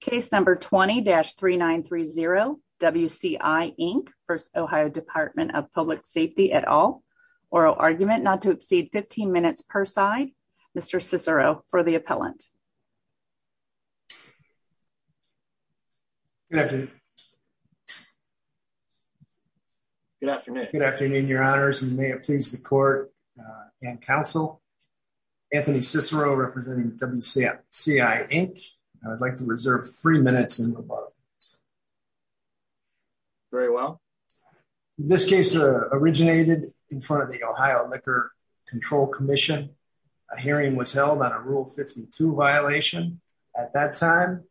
Case number 20-3930 WCI Inc v. Ohio Dept of Public Safety et al. Oral argument not to exceed 15 minutes per side. Mr. Cicero for the appellant. Good afternoon. Good afternoon. Good afternoon, your honors and may it please the court and minutes and above. Very well. This case originated in front of the Ohio Liquor Control Commission. A hearing was held on a Rule 52 violation. At that time,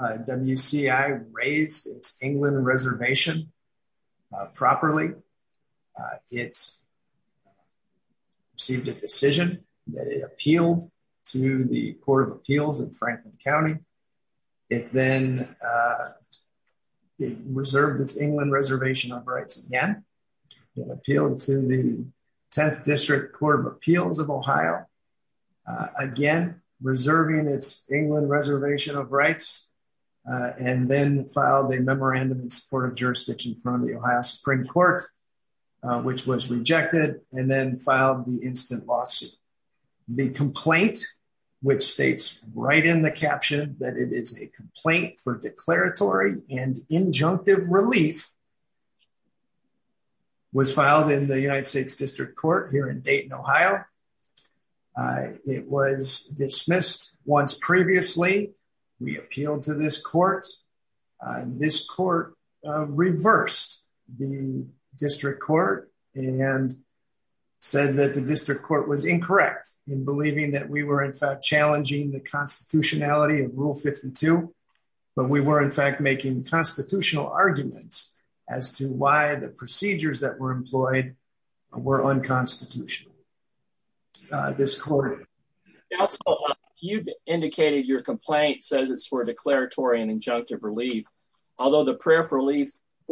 WCI raised its England reservation properly. It's received a decision that it appealed to the District Court of Appeals in Franklin County. It then reserved its England reservation of rights again. It appealed to the 10th District Court of Appeals of Ohio. Again, reserving its England reservation of rights and then filed a memorandum in support of jurisdiction from the Ohio Supreme Court, which was rejected and then filed the instant lawsuit. The complaint, which states right in the caption that it is a complaint for declaratory and injunctive relief, was filed in the United States District Court here in Dayton, Ohio. It was dismissed once previously. We appealed to this court. This court reversed the District Court and said that the District Court was incorrect in believing that we were in fact challenging the constitutionality of Rule 52, but we were in fact making constitutional arguments as to why the procedures that were employed were unconstitutional. You've indicated your complaint says it's for declaratory and injunctive relief, although the prayer for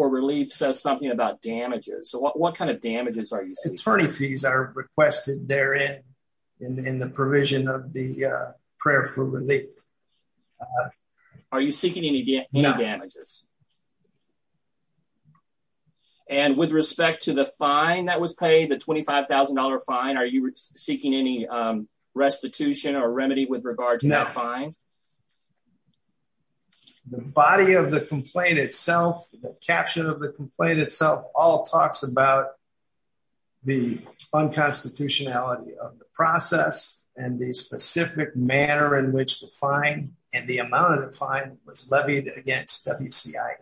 relief says something about damages. So what kind of damages are you seeking? Attorney fees are requested therein in the provision of the prayer for relief. Are you seeking any damages? And with respect to the fine that was paid, the $25,000 fine, are you seeking any restitution or remedy with regard to that fine? The body of the complaint itself, the caption of the complaint itself, all talks about the unconstitutionality of the process and the specific manner in which the fine and the amount of the fine was levied against WCIA.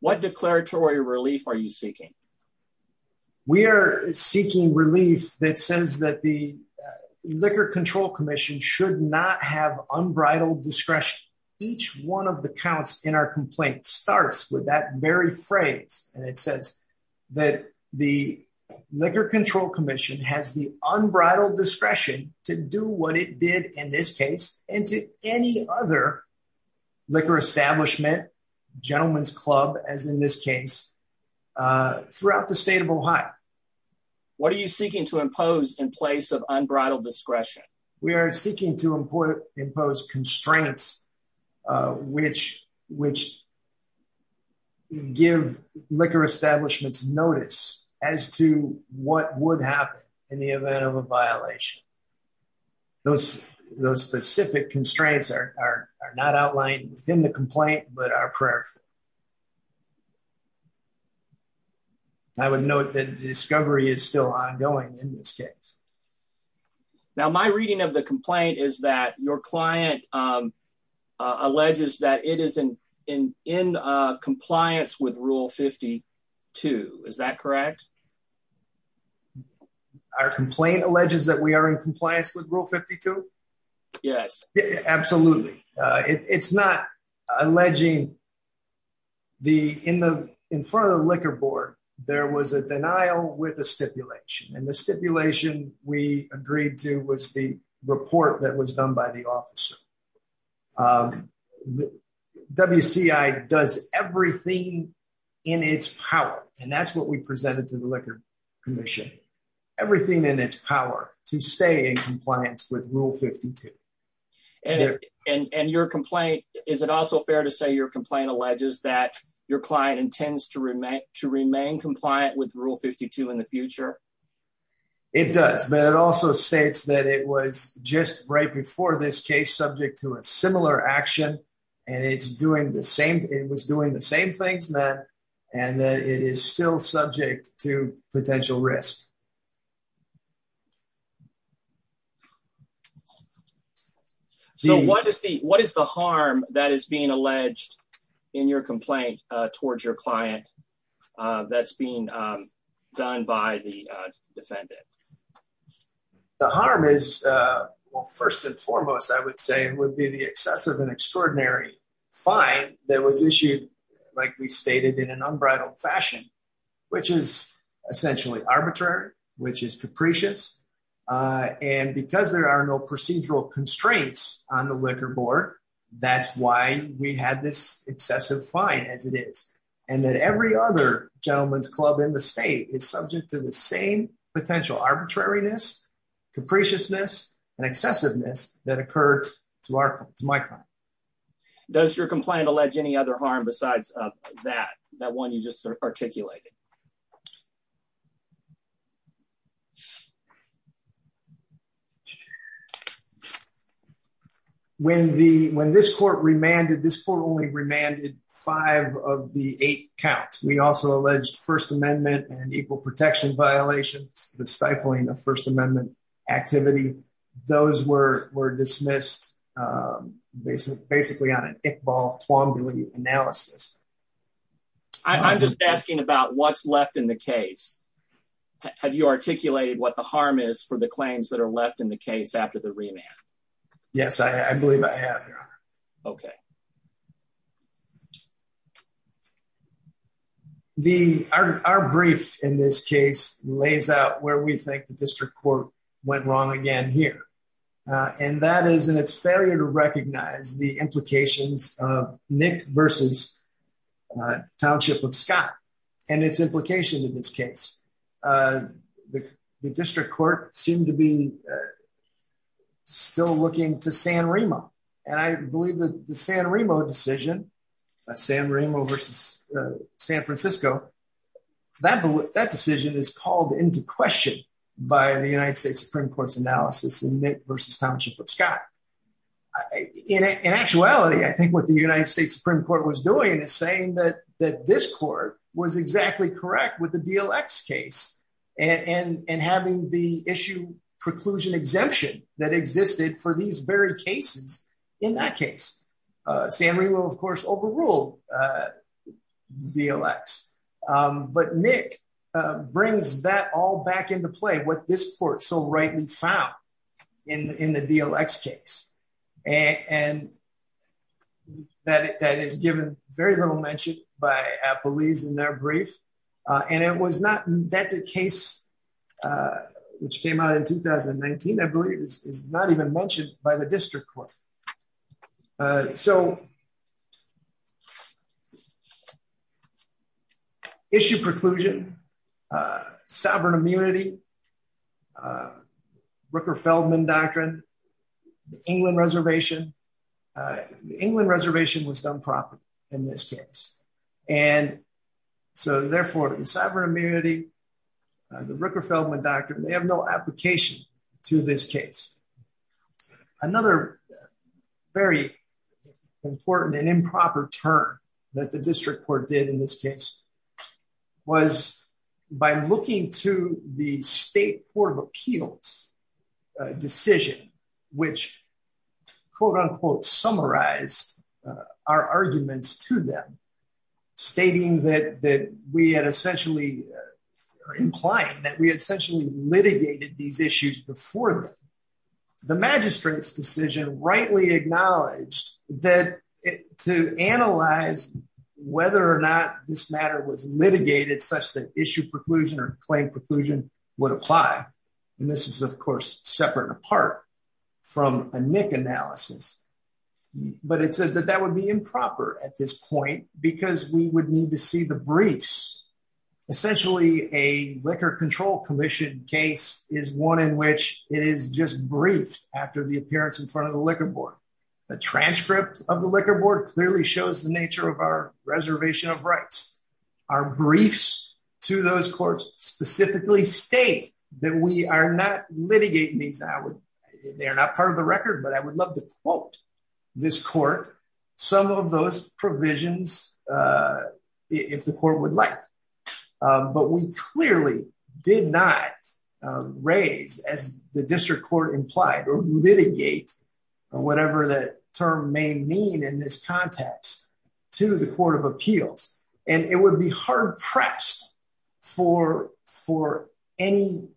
What declaratory relief are you seeking? We are seeking relief that says that the Liquor Control Commission should not have unbridled discretion. Each one of the counts in our complaint starts with that very phrase, and it says that the Liquor Control Commission has the unbridled discretion to do what it did in this case and to any other liquor establishment, gentleman's club as in this case, throughout the state of Ohio. What are you seeking to impose in place of unbridled discretion? We are seeking to impose constraints which give liquor establishments notice as to what would happen in the event of a violation. Those specific constraints are not outlined within the complaint, but are prayerful. I would note that the discovery is still ongoing in this case. Now, my reading of the complaint is that your client alleges that it is in compliance with Rule 52. Is that correct? Our complaint alleges that we are in compliance with Rule 52? Yes. Absolutely. It's not alleging the... In front of the liquor board, there was a denial with a stipulation, and the stipulation we agreed to was the report that was done by the officer. WCI does everything in its power, and that's what we presented to the Liquor Commission. Everything in its power to stay in compliance with Rule 52. And your complaint, is it also fair to say your complaint alleges that your client intends to remain compliant with Rule 52 in the future? It does, but it also states that it was just right before this case subject to a similar action, and it's doing the same... It was doing the same things then, and that it is still subject to potential risk. So, what is the harm that is being alleged in your complaint towards your client that's being done by the defendant? The harm is... Well, first and foremost, I would say, would be the excessive and extraordinary fine that was issued, like we stated, in an unbridled fashion, which is essentially arbitrary, which is capricious. And because there are no procedural constraints on the liquor board, that's why we had this excessive fine as it is. And that every other gentleman's club in the state is subject to the same potential arbitrariness, capriciousness, and excessiveness that occurred to my client. Does your complaint allege any other harm besides that one you just articulated? When this court remanded... This court only remanded five of the eight counts. We also alleged First Amendment and Equal Protection violations, the stifling of First Amendment activity. Those were dismissed, basically, on an Iqbal-Twombly analysis. I'm just asking about what... What's left in the case? Have you articulated what the harm is for the claims that are left in the case after the remand? Yes, I believe I have, Your Honor. Okay. Our brief in this case lays out where we think the district court went wrong again here, and that is in its failure to recognize the implications of Nick versus Township of Scott. And its implication in this case. The district court seemed to be still looking to San Remo. And I believe that the San Remo decision, San Remo versus San Francisco, that decision is called into question by the United States Supreme Court's analysis in Nick versus Township of Scott. In actuality, I think what the United States Supreme Court was doing is saying that this court was exactly correct with the DLX case, and having the issue preclusion exemption that existed for these very cases in that case. San Remo, of course, overruled DLX. But Nick brings that all back into play, what this court so rightly found in the DLX case. And that is given very little mention by Appalese in their brief. And it was not that the case which came out in 2019, I believe, is not even mentioned by the district court. So issue preclusion, sovereign immunity, the Rooker-Feldman doctrine, the England reservation. The England reservation was done properly in this case. And so therefore, the sovereign immunity, the Rooker-Feldman doctrine, they have no application to this case. Another very important and improper term that the district court did in this case was by looking to the state court of appeals decision, which, quote unquote, summarized our arguments to them, stating that we had essentially implied that we had essentially litigated these issues before them. The magistrate's decision rightly acknowledged that to analyze whether or not this matter was litigated such that issue preclusion or claim preclusion would apply. And this is, of course, separate and apart from a Nick analysis. But it said that that would be improper at this point because we would need to see the briefs. Essentially, a Liquor Control Commission case is one in which it is just briefed the appearance in front of the liquor board. The transcript of the liquor board clearly shows the nature of our reservation of rights. Our briefs to those courts specifically state that we are not litigating these. They're not part of the record, but I would love to quote this court some of those provisions if the court would like. But we clearly did not raise, as the district court implied, or litigate or whatever that term may mean in this context to the court of appeals. And it would be hard pressed for any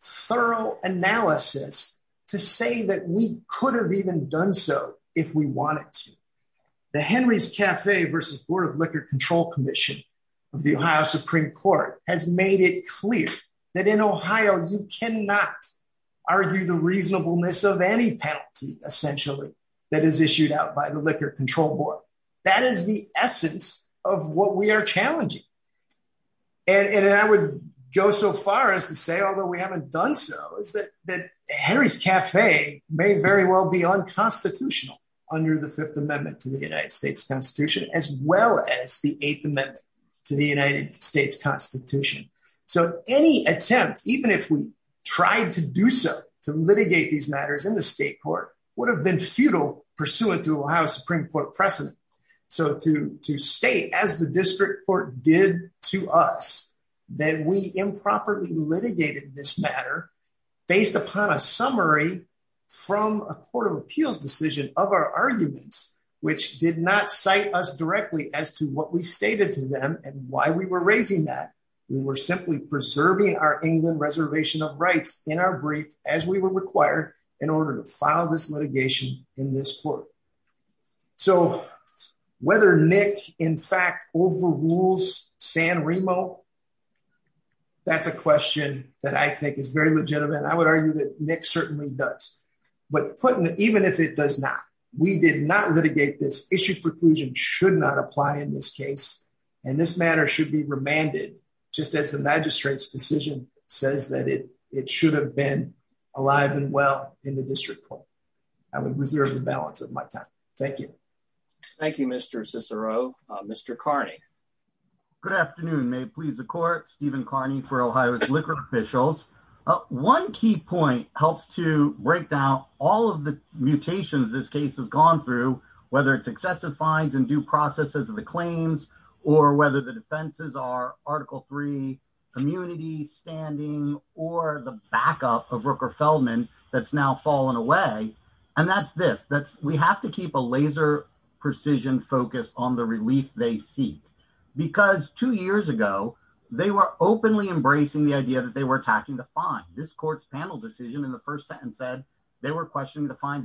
thorough analysis to say that we could have even done so if we wanted to. The Henry's Cafe versus Board of Liquor Control Commission of the Ohio Supreme Court has made it of any penalty, essentially, that is issued out by the Liquor Control Board. That is the essence of what we are challenging. And I would go so far as to say, although we haven't done so, is that Henry's Cafe may very well be unconstitutional under the Fifth Amendment to the United States Constitution, as well as the Eighth Amendment to the United States Constitution. So any attempt, even if we tried to do so, to litigate these matters in the state court would have been futile pursuant to Ohio Supreme Court precedent. So to state, as the district court did to us, that we improperly litigated this matter based upon a summary from a court of appeals decision of our arguments, which did not cite us directly as to what we were doing. We were simply preserving our England reservation of rights in our brief, as we were required in order to file this litigation in this court. So whether Nick, in fact, overrules San Remo, that's a question that I think is very legitimate. I would argue that Nick certainly does. But even if it does not, we did not litigate this. Issued preclusion should not apply in this case, and this matter should be remanded, just as the magistrate's decision says that it should have been alive and well in the district court. I would reserve the balance of my time. Thank you. Thank you, Mr. Cicero. Mr. Carney. Good afternoon. May it please the court, Stephen Carney for Ohio's liquor officials. One key point helps to break down all of the mutations this case has gone through, whether it's excessive fines and due processes of the claims, or whether the defenses are Article III immunity standing, or the backup of Rooker Feldman that's now fallen away. And that's this, we have to keep a laser precision focus on the relief they seek. Because two years ago, they were openly embracing the idea that they were questioning the fine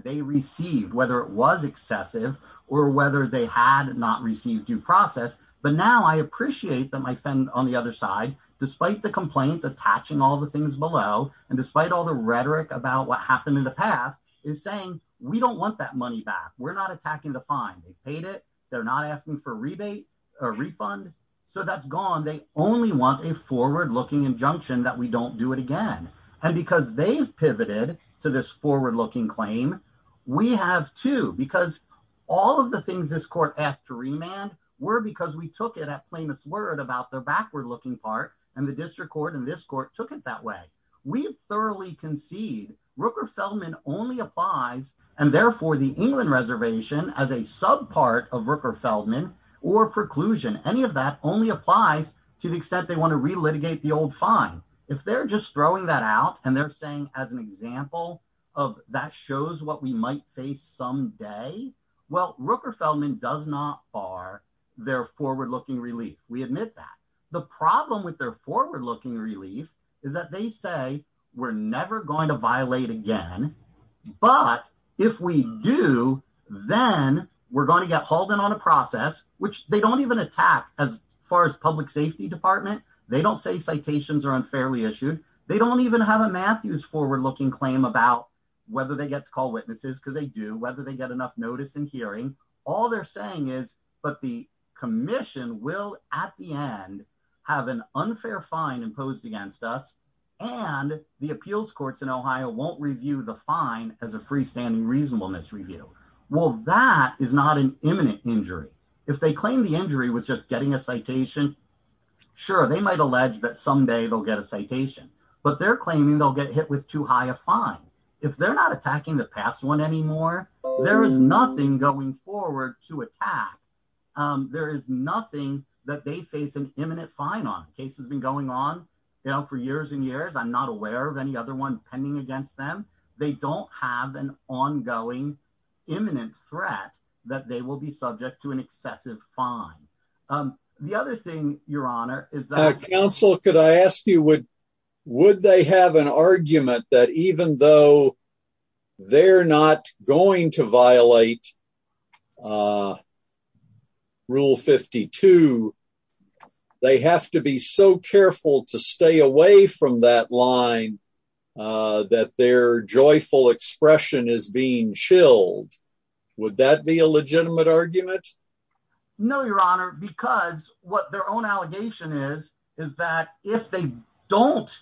they received, whether it was excessive, or whether they had not received due process. But now I appreciate that my friend on the other side, despite the complaint attaching all the things below, and despite all the rhetoric about what happened in the past, is saying, we don't want that money back. We're not attacking the fine. They paid it. They're not asking for rebate or refund. So that's gone. They only want a forward looking injunction that we don't do it again. And because they've pivoted to this forward looking claim, we have to because all of the things this court asked to remand were because we took it at famous word about the backward looking part, and the district court and this court took it that way. We've thoroughly concede Rooker Feldman only applies, and therefore the England reservation as a sub part of Rooker Feldman, or preclusion, any of that only applies to the extent they want to relitigate the old fine. If they're just throwing that out, and they're saying as an example of that shows what we might face someday, well, Rooker Feldman does not bar their forward looking relief. We admit that the problem with their forward looking relief is that they say we're never going to violate again. But if we do, then we're going to get hauled in on a process, which they don't even attack as far as public safety department. They don't say citations are unfairly issued. They don't even have a Matthews forward looking claim about whether they get to call witnesses because they do whether they get enough notice and hearing. All they're saying is, but the commission will at the end, have an unfair fine imposed against us. And the appeals courts in Ohio won't review the fine as a freestanding reasonableness review. Well, that is not an injury was just getting a citation. Sure. They might allege that someday they'll get a citation, but they're claiming they'll get hit with too high a fine. If they're not attacking the past one anymore, there is nothing going forward to attack. There is nothing that they face an imminent fine on the case has been going on, you know, for years and years. I'm not aware of any other one pending against them. They don't have an ongoing imminent threat that they will be subject to an excessive fine. The other thing your honor is that counsel, could I ask you would, would they have an argument that even though they're not going to violate rule 52, they have to be so careful to stay away from that line that their argument? No, your honor, because what their own allegation is, is that if they don't,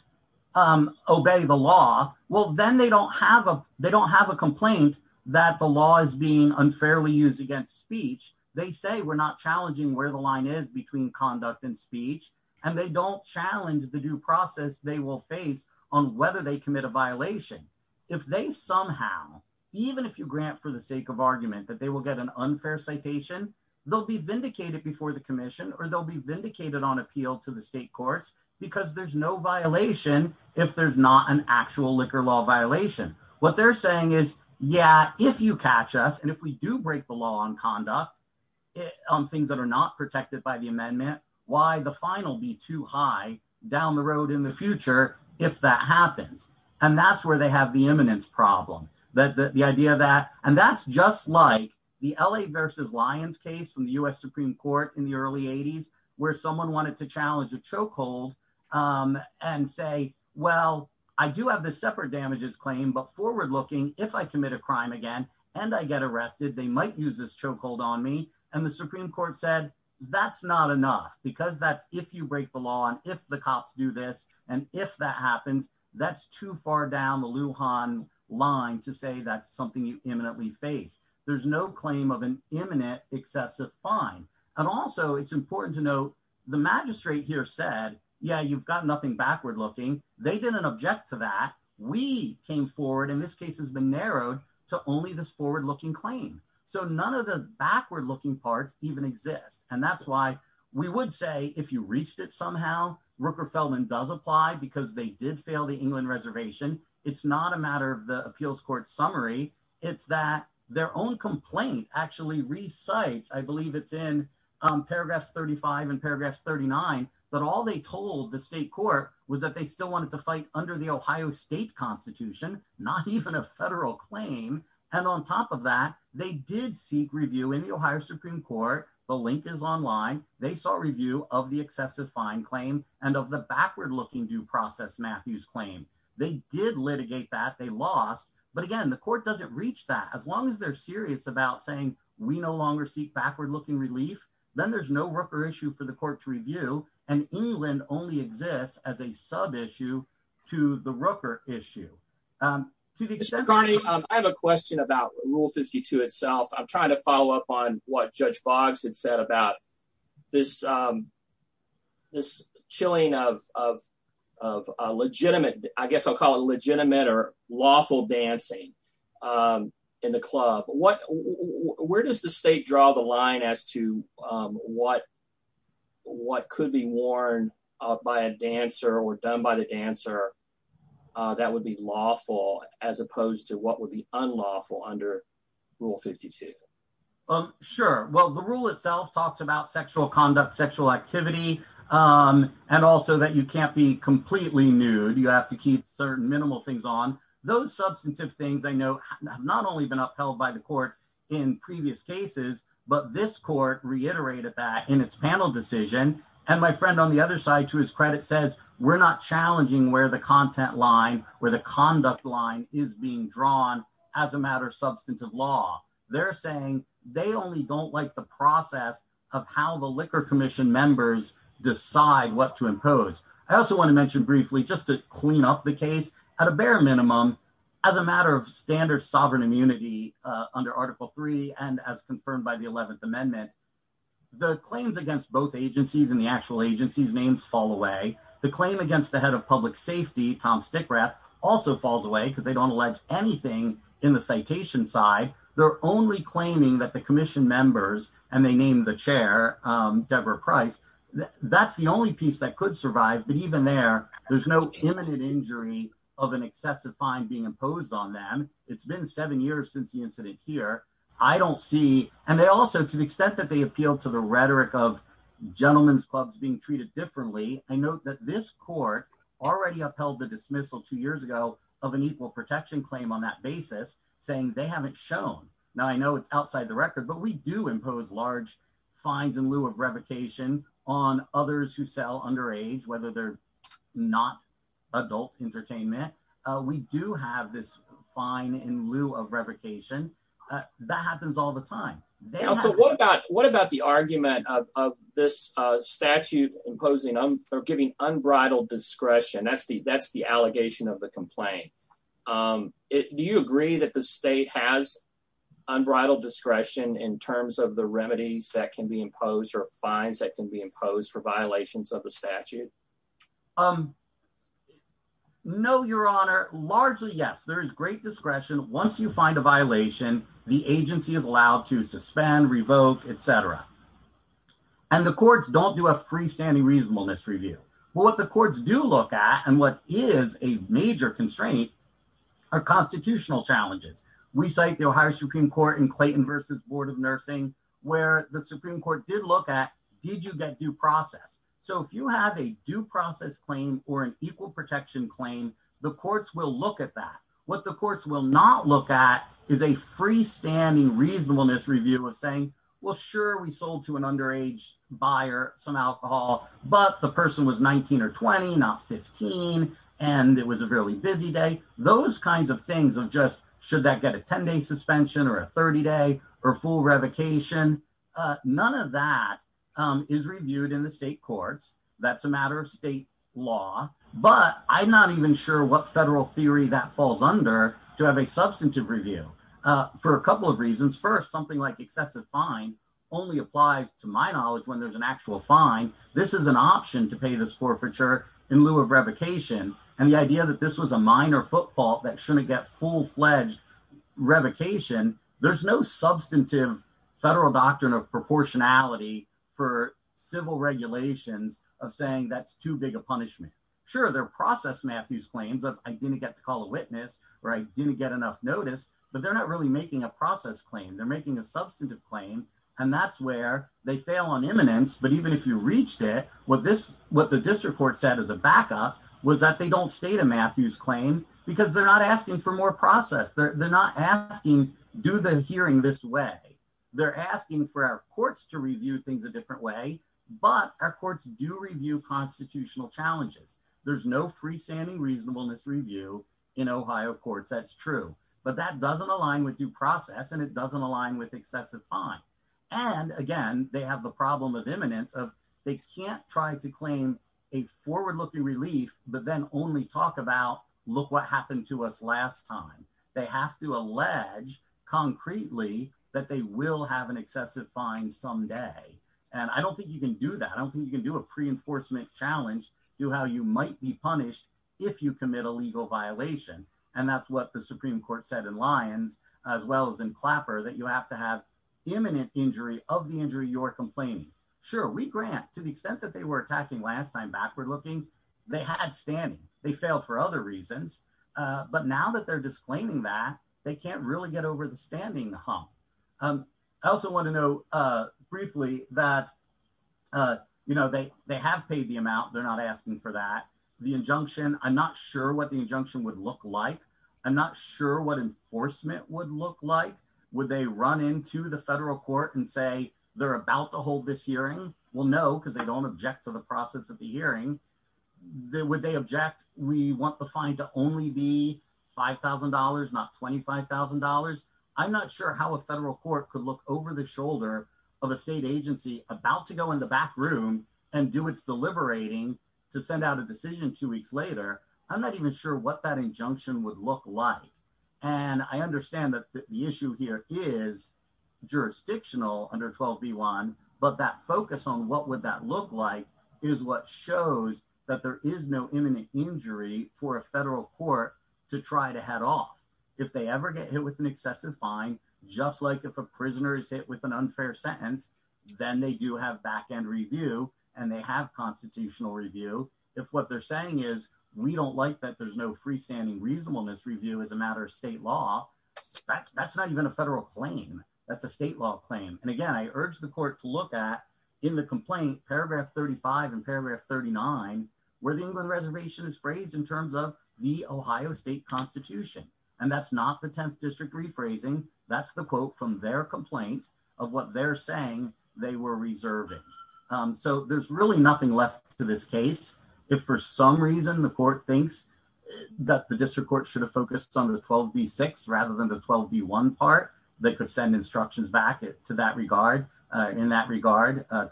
um, obey the law, well, then they don't have a, they don't have a complaint that the law is being unfairly used against speech. They say we're not challenging where the line is between conduct and speech and they don't challenge the due process they will face on whether they commit a violation. If they somehow, even if you grant for the sake of argument that they will get an unfair citation, they'll be vindicated before the commission or they'll be vindicated on appeal to the state courts because there's no violation if there's not an actual liquor law violation. What they're saying is, yeah, if you catch us and if we do break the law on conduct, on things that are not protected by the amendment, why the final be too high down the road in the future if that eminence problem that the idea that, and that's just like the LA versus lions case from the U.S. Supreme court in the early eighties, where someone wanted to challenge a choke hold, um, and say, well, I do have this separate damages claim, but forward-looking, if I commit a crime again, and I get arrested, they might use this choke hold on me. And the Supreme court said, that's not enough because that's, if you break the law and if the cops do this, and if that happens, that's too far down the Lujan line to say, that's something you imminently face. There's no claim of an imminent excessive fine. And also it's important to note the magistrate here said, yeah, you've got nothing backward-looking. They didn't object to that. We came forward in this case has been narrowed to only this forward-looking claim. So none of the backward-looking parts even exist. And that's why we would say, if you reached it, somehow Rooker Feldman does apply because they did fail the England reservation. It's not a matter of the appeals court summary. It's that their own complaint actually recites, I believe it's in paragraphs 35 and paragraphs 39, but all they told the state court was that they still wanted to fight under the Ohio state constitution, not even a federal claim. And on top of that, they did seek review in the Ohio Supreme court. The link is online. They saw review of the excessive fine claim and of the backward-looking due process, Matthew's claim. They did litigate that they lost, but again, the court doesn't reach that as long as they're serious about saying we no longer seek backward-looking relief, then there's no Rooker issue for the court to review. And England only exists as a sub-issue to the Rooker issue. I have a question about rule 52 itself. I'm trying to follow up on what judge Boggs had said about this chilling of legitimate, I guess I'll call it legitimate or lawful dancing in the club. Where does the state draw the line as to what could be worn by a dancer or done by the dancer that would be lawful as opposed to what would be unlawful under rule 52? Sure. Well, the rule itself talks about sexual conduct, sexual activity, and also that you can't be completely nude. You have to keep certain minimal things on. Those substantive things I know have not only been upheld by the court in previous cases, but this court reiterated that in its panel decision. And my friend on the other side, to his credit, says we're not challenging where the content line, where the conduct line is being drawn as a matter of substantive law. They're saying they only don't like the process of how the Liquor Commission members decide what to impose. I also want to mention briefly, just to clean up the case, at a bare minimum, as a matter of standard sovereign immunity under Article III and as confirmed by the 11th Amendment, the claims against both agencies and the actual agencies' names fall away. The claim against the head of public safety, Tom Stickrath, also falls away because they don't allege anything in the citation side. They're only claiming that the commission members, and they named the chair, Deborah Price, that's the only piece that could survive. But even there, there's no imminent injury of an excessive fine being imposed on them. It's been seven years since the incident here. I don't see, and they also, to the extent that they appeal to the rhetoric of gentlemen's clubs being treated differently, I note that this court already upheld the dismissal two years ago of an equal protection claim on that basis, saying they haven't shown. Now, I know it's outside the record, but we do impose large fines in lieu of revocation on others who sell underage, whether they're not adult entertainment. We do have this fine in lieu of revocation. That happens all the time. Also, what about the argument of this statute imposing or giving unbridled discretion? That's the allegation of the complaint. Do you agree that the state has unbridled discretion in terms of the remedies that can be imposed or fines that can be imposed for violations of the statute? No, Your Honor. Largely, yes. There is great discretion. Once you find a violation, the agency is allowed to suspend, revoke, etc. The courts don't do a freestanding reasonableness review. What the courts do look at and what is a major constraint are constitutional challenges. We cite the Ohio Supreme Court in Clayton v. Board of Nursing, where the Supreme Court did look at, did you get due process? If you have a due process claim or an equal protection claim, the courts will look at that. What the courts will not look at is a freestanding reasonableness review of saying, well, sure, we sold to an underage buyer some alcohol, but the person was 19 or 20, not 15, and it was a fairly busy day. Those kinds of things of just should that get a 10-day suspension or a 30-day or full revocation, none of that is reviewed in the courts. That is a matter of state law, but I am not even sure what federal theory that falls under to have a substantive review for a couple of reasons. First, something like excessive fine only applies to my knowledge when there is an actual fine. This is an option to pay this forfeiture in lieu of revocation. The idea that this was a minor footfall that should not get full-fledged revocation, there is no substantive federal doctrine of proportionality for civil regulations of saying that is too big a punishment. Sure, there are process Matthews claims of I did not get to call a witness or I did not get enough notice, but they are not really making a process claim. They are making a substantive claim, and that is where they fail on eminence, but even if you reached it, what the district court said as a backup was that they do not state a Matthews claim because they are not asking for more process. They are not asking do the hearing this way. They are asking for our courts to review things a different way, but our courts do review constitutional challenges. There is no freestanding reasonableness review in Ohio courts. That is true, but that does not align with due process and it does not align with excessive fine. Again, they have the problem of eminence of they cannot try to claim a forward-looking relief, but then only talk about look what happened to us last time. They have to allege concretely that they will have an excessive fine someday, and I do not think you can do that. I do not think you can do a preenforcement challenge to how you might be punished if you commit a legal violation, and that is what the Supreme Court said in Lyons as well as in Clapper that you have to have eminent injury of the injury you are complaining. Sure, we grant to the extent that they were attacking last time backward they had standing. They failed for other reasons, but now that they are disclaiming that, they cannot really get over the standing hump. I also want to know briefly that they have paid the amount. They are not asking for that. The injunction, I am not sure what the injunction would look like. I am not sure what enforcement would look like. Would they run into the federal court and say they are about to hold this hearing? No, because they do not object to the process of what they object. We want the fine to only be $5,000, not $25,000. I am not sure how a federal court could look over the shoulder of a state agency about to go in the back room and do its deliberating to send out a decision two weeks later. I am not even sure what that injunction would look like, and I understand that the issue here is jurisdictional under 12B1, but that focus on what would that look like is what shows that there is no imminent injury for a federal court to try to head off. If they ever get hit with an excessive fine, just like if a prisoner is hit with an unfair sentence, then they do have back-end review and they have constitutional review. If what they are saying is we do not like that there is no freestanding reasonableness review as a matter of state law, that is not even a federal claim. That is a state law claim. Again, I urge the court to look at in the complaint, paragraph 35 and paragraph 39, where the England reservation is phrased in terms of the Ohio state constitution. That is not the 10th district rephrasing. That is the quote from their complaint of what they are saying they were reserving. There is really nothing left to this case. If for some reason the court thinks that the district court should have focused on the 12B6 rather than the 12B1 part, they could send instructions back in that regard to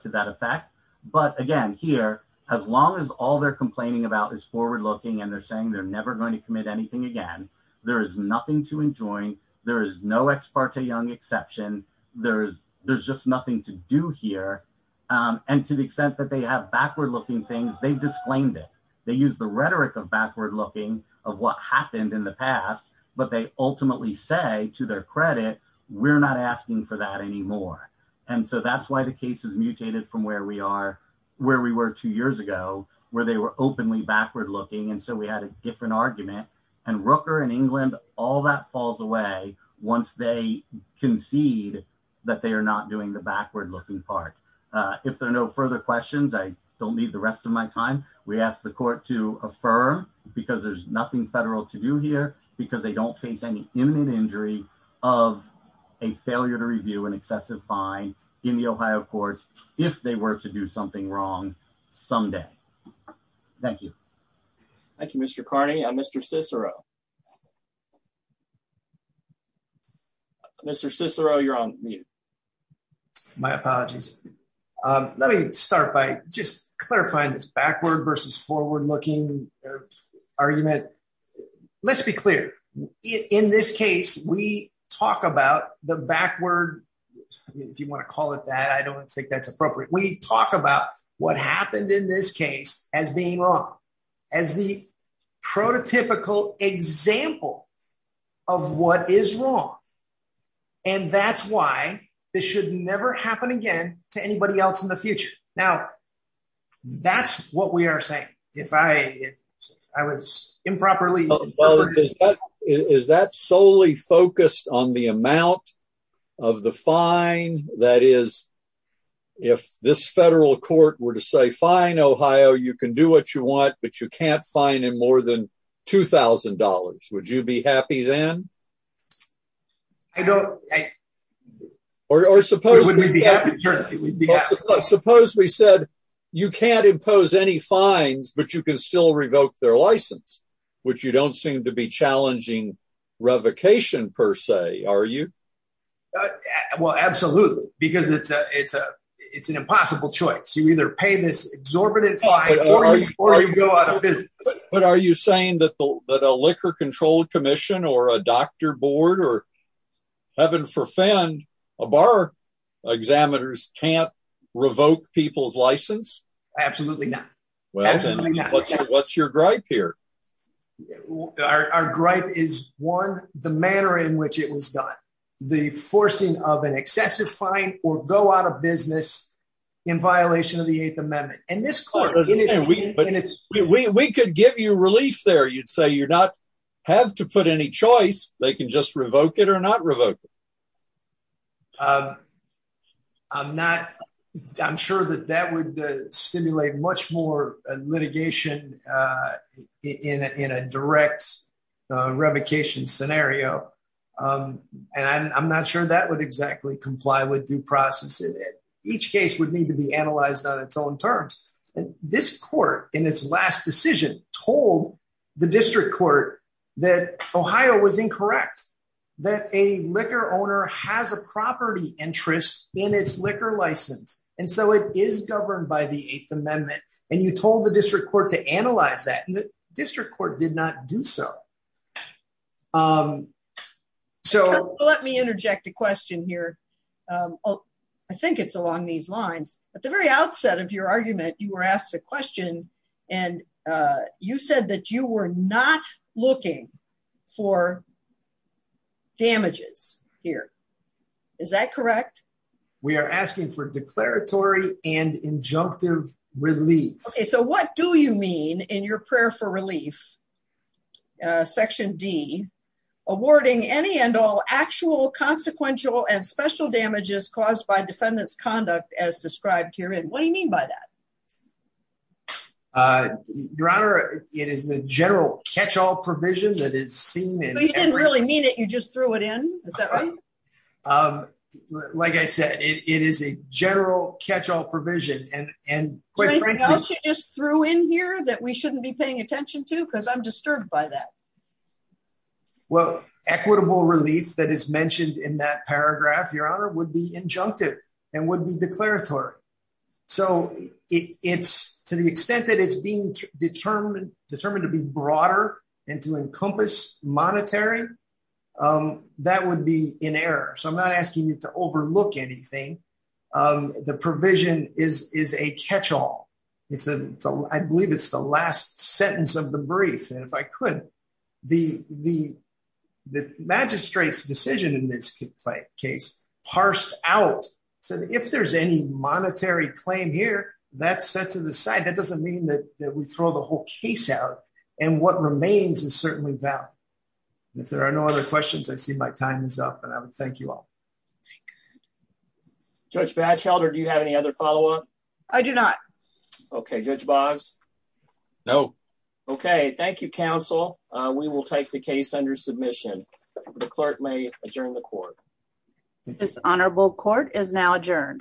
that effect. Again, here, as long as all they are complaining about is forward-looking and they are saying they are never going to commit anything again, there is nothing to enjoin. There is no Ex parte Young exception. There is nothing to do here. To the extent that they have backward-looking things, they have disclaimed it. They use the rhetoric of backward-looking of what happened in the past, but they ultimately say, to their credit, we are not asking for that anymore. That is why the case is mutated from where we were two years ago, where they were openly backward-looking. We had a different argument. Rooker and England, all that falls away once they concede that they are not doing the backward-looking part. If there are no further questions, I do not need the rest of my time. We ask the court to affirm, because there is nothing federal to do here, because they do not face any imminent injury of a failure to review an excessive fine in the Ohio courts if they were to do something wrong someday. Thank you. Thank you, Mr. Carney. Mr. Cicero, you are on mute. My apologies. Let me start by just clarifying this backward versus forward-looking argument. Let us be clear. In this case, we talk about the backward—if you want to call it that, I do not think that is appropriate—we talk about what happened in this case as being wrong, as the prototypical example of what is wrong. That is why this should never happen again to anybody else in the future. Now, that is what we are saying. If I was improperly— Is that solely focused on the amount of the fine? That is, if this federal court were to say, Ohio, you can do what you want, but you cannot fine in more than $2,000, would you be happy then? Or suppose we said, you cannot impose any fines, but you can still revoke their license, which you do not seem to be challenging revocation, per se, are you? Absolutely, because it is an impossible choice. You either pay this exorbitant fine, or you go out of business. Are you saying that a liquor control commission or a doctor board or, heaven forfend, a bar examiner cannot revoke people's license? Absolutely not. What is your gripe here? Our gripe is, one, the manner in which it was done. The forcing of an excessive fine or go out of business in violation of the Eighth Amendment. We could give you relief there. You would say you do not have to put any choice. They can just revoke it or not revoke it. I'm sure that that would stimulate much more litigation in a direct revocation scenario. I'm not sure that would exactly comply with due process. Each case would need to be analyzed on its own terms. This court, in its last decision, told the district court that Ohio was incorrect, that a liquor owner has a property interest in its liquor license. It is governed by the Eighth Amendment. You told the district court to analyze that. The district court did not do so. Let me interject a question here. I think it's along these lines. At the very outset of your damages here, is that correct? We are asking for declaratory and injunctive relief. Okay, so what do you mean in your prayer for relief, section D, awarding any and all actual consequential and special damages caused by defendant's conduct as described herein? What do you mean by that? Your Honor, it is the general catch-all provision that is seen in- You didn't really mean it. You just threw it in. Is that right? Like I said, it is a general catch-all provision. Anything else you just threw in here that we shouldn't be paying attention to? I'm disturbed by that. Equitable relief that is mentioned in that paragraph, Your Honor, would be injunctive and would be declaratory. To the extent that it's being determined to be broader and to encompass monetary, that would be in error. I'm not asking you to overlook anything. The provision is a catch-all. I believe it's the last sentence of the brief. If I could, the magistrate's decision in this case parsed out. If there's any monetary claim here, that's set to the side. That doesn't mean that we throw the whole case out. What remains is certainly valid. If there are no other questions, I see my time is up. I would thank you all. Thank you. Judge Batchelder, do you have any other follow-up? I do not. Okay. Judge Boggs? No. Okay. Thank you, counsel. We will take the case under submission. The clerk may adjourn the court. This honorable court is now adjourned.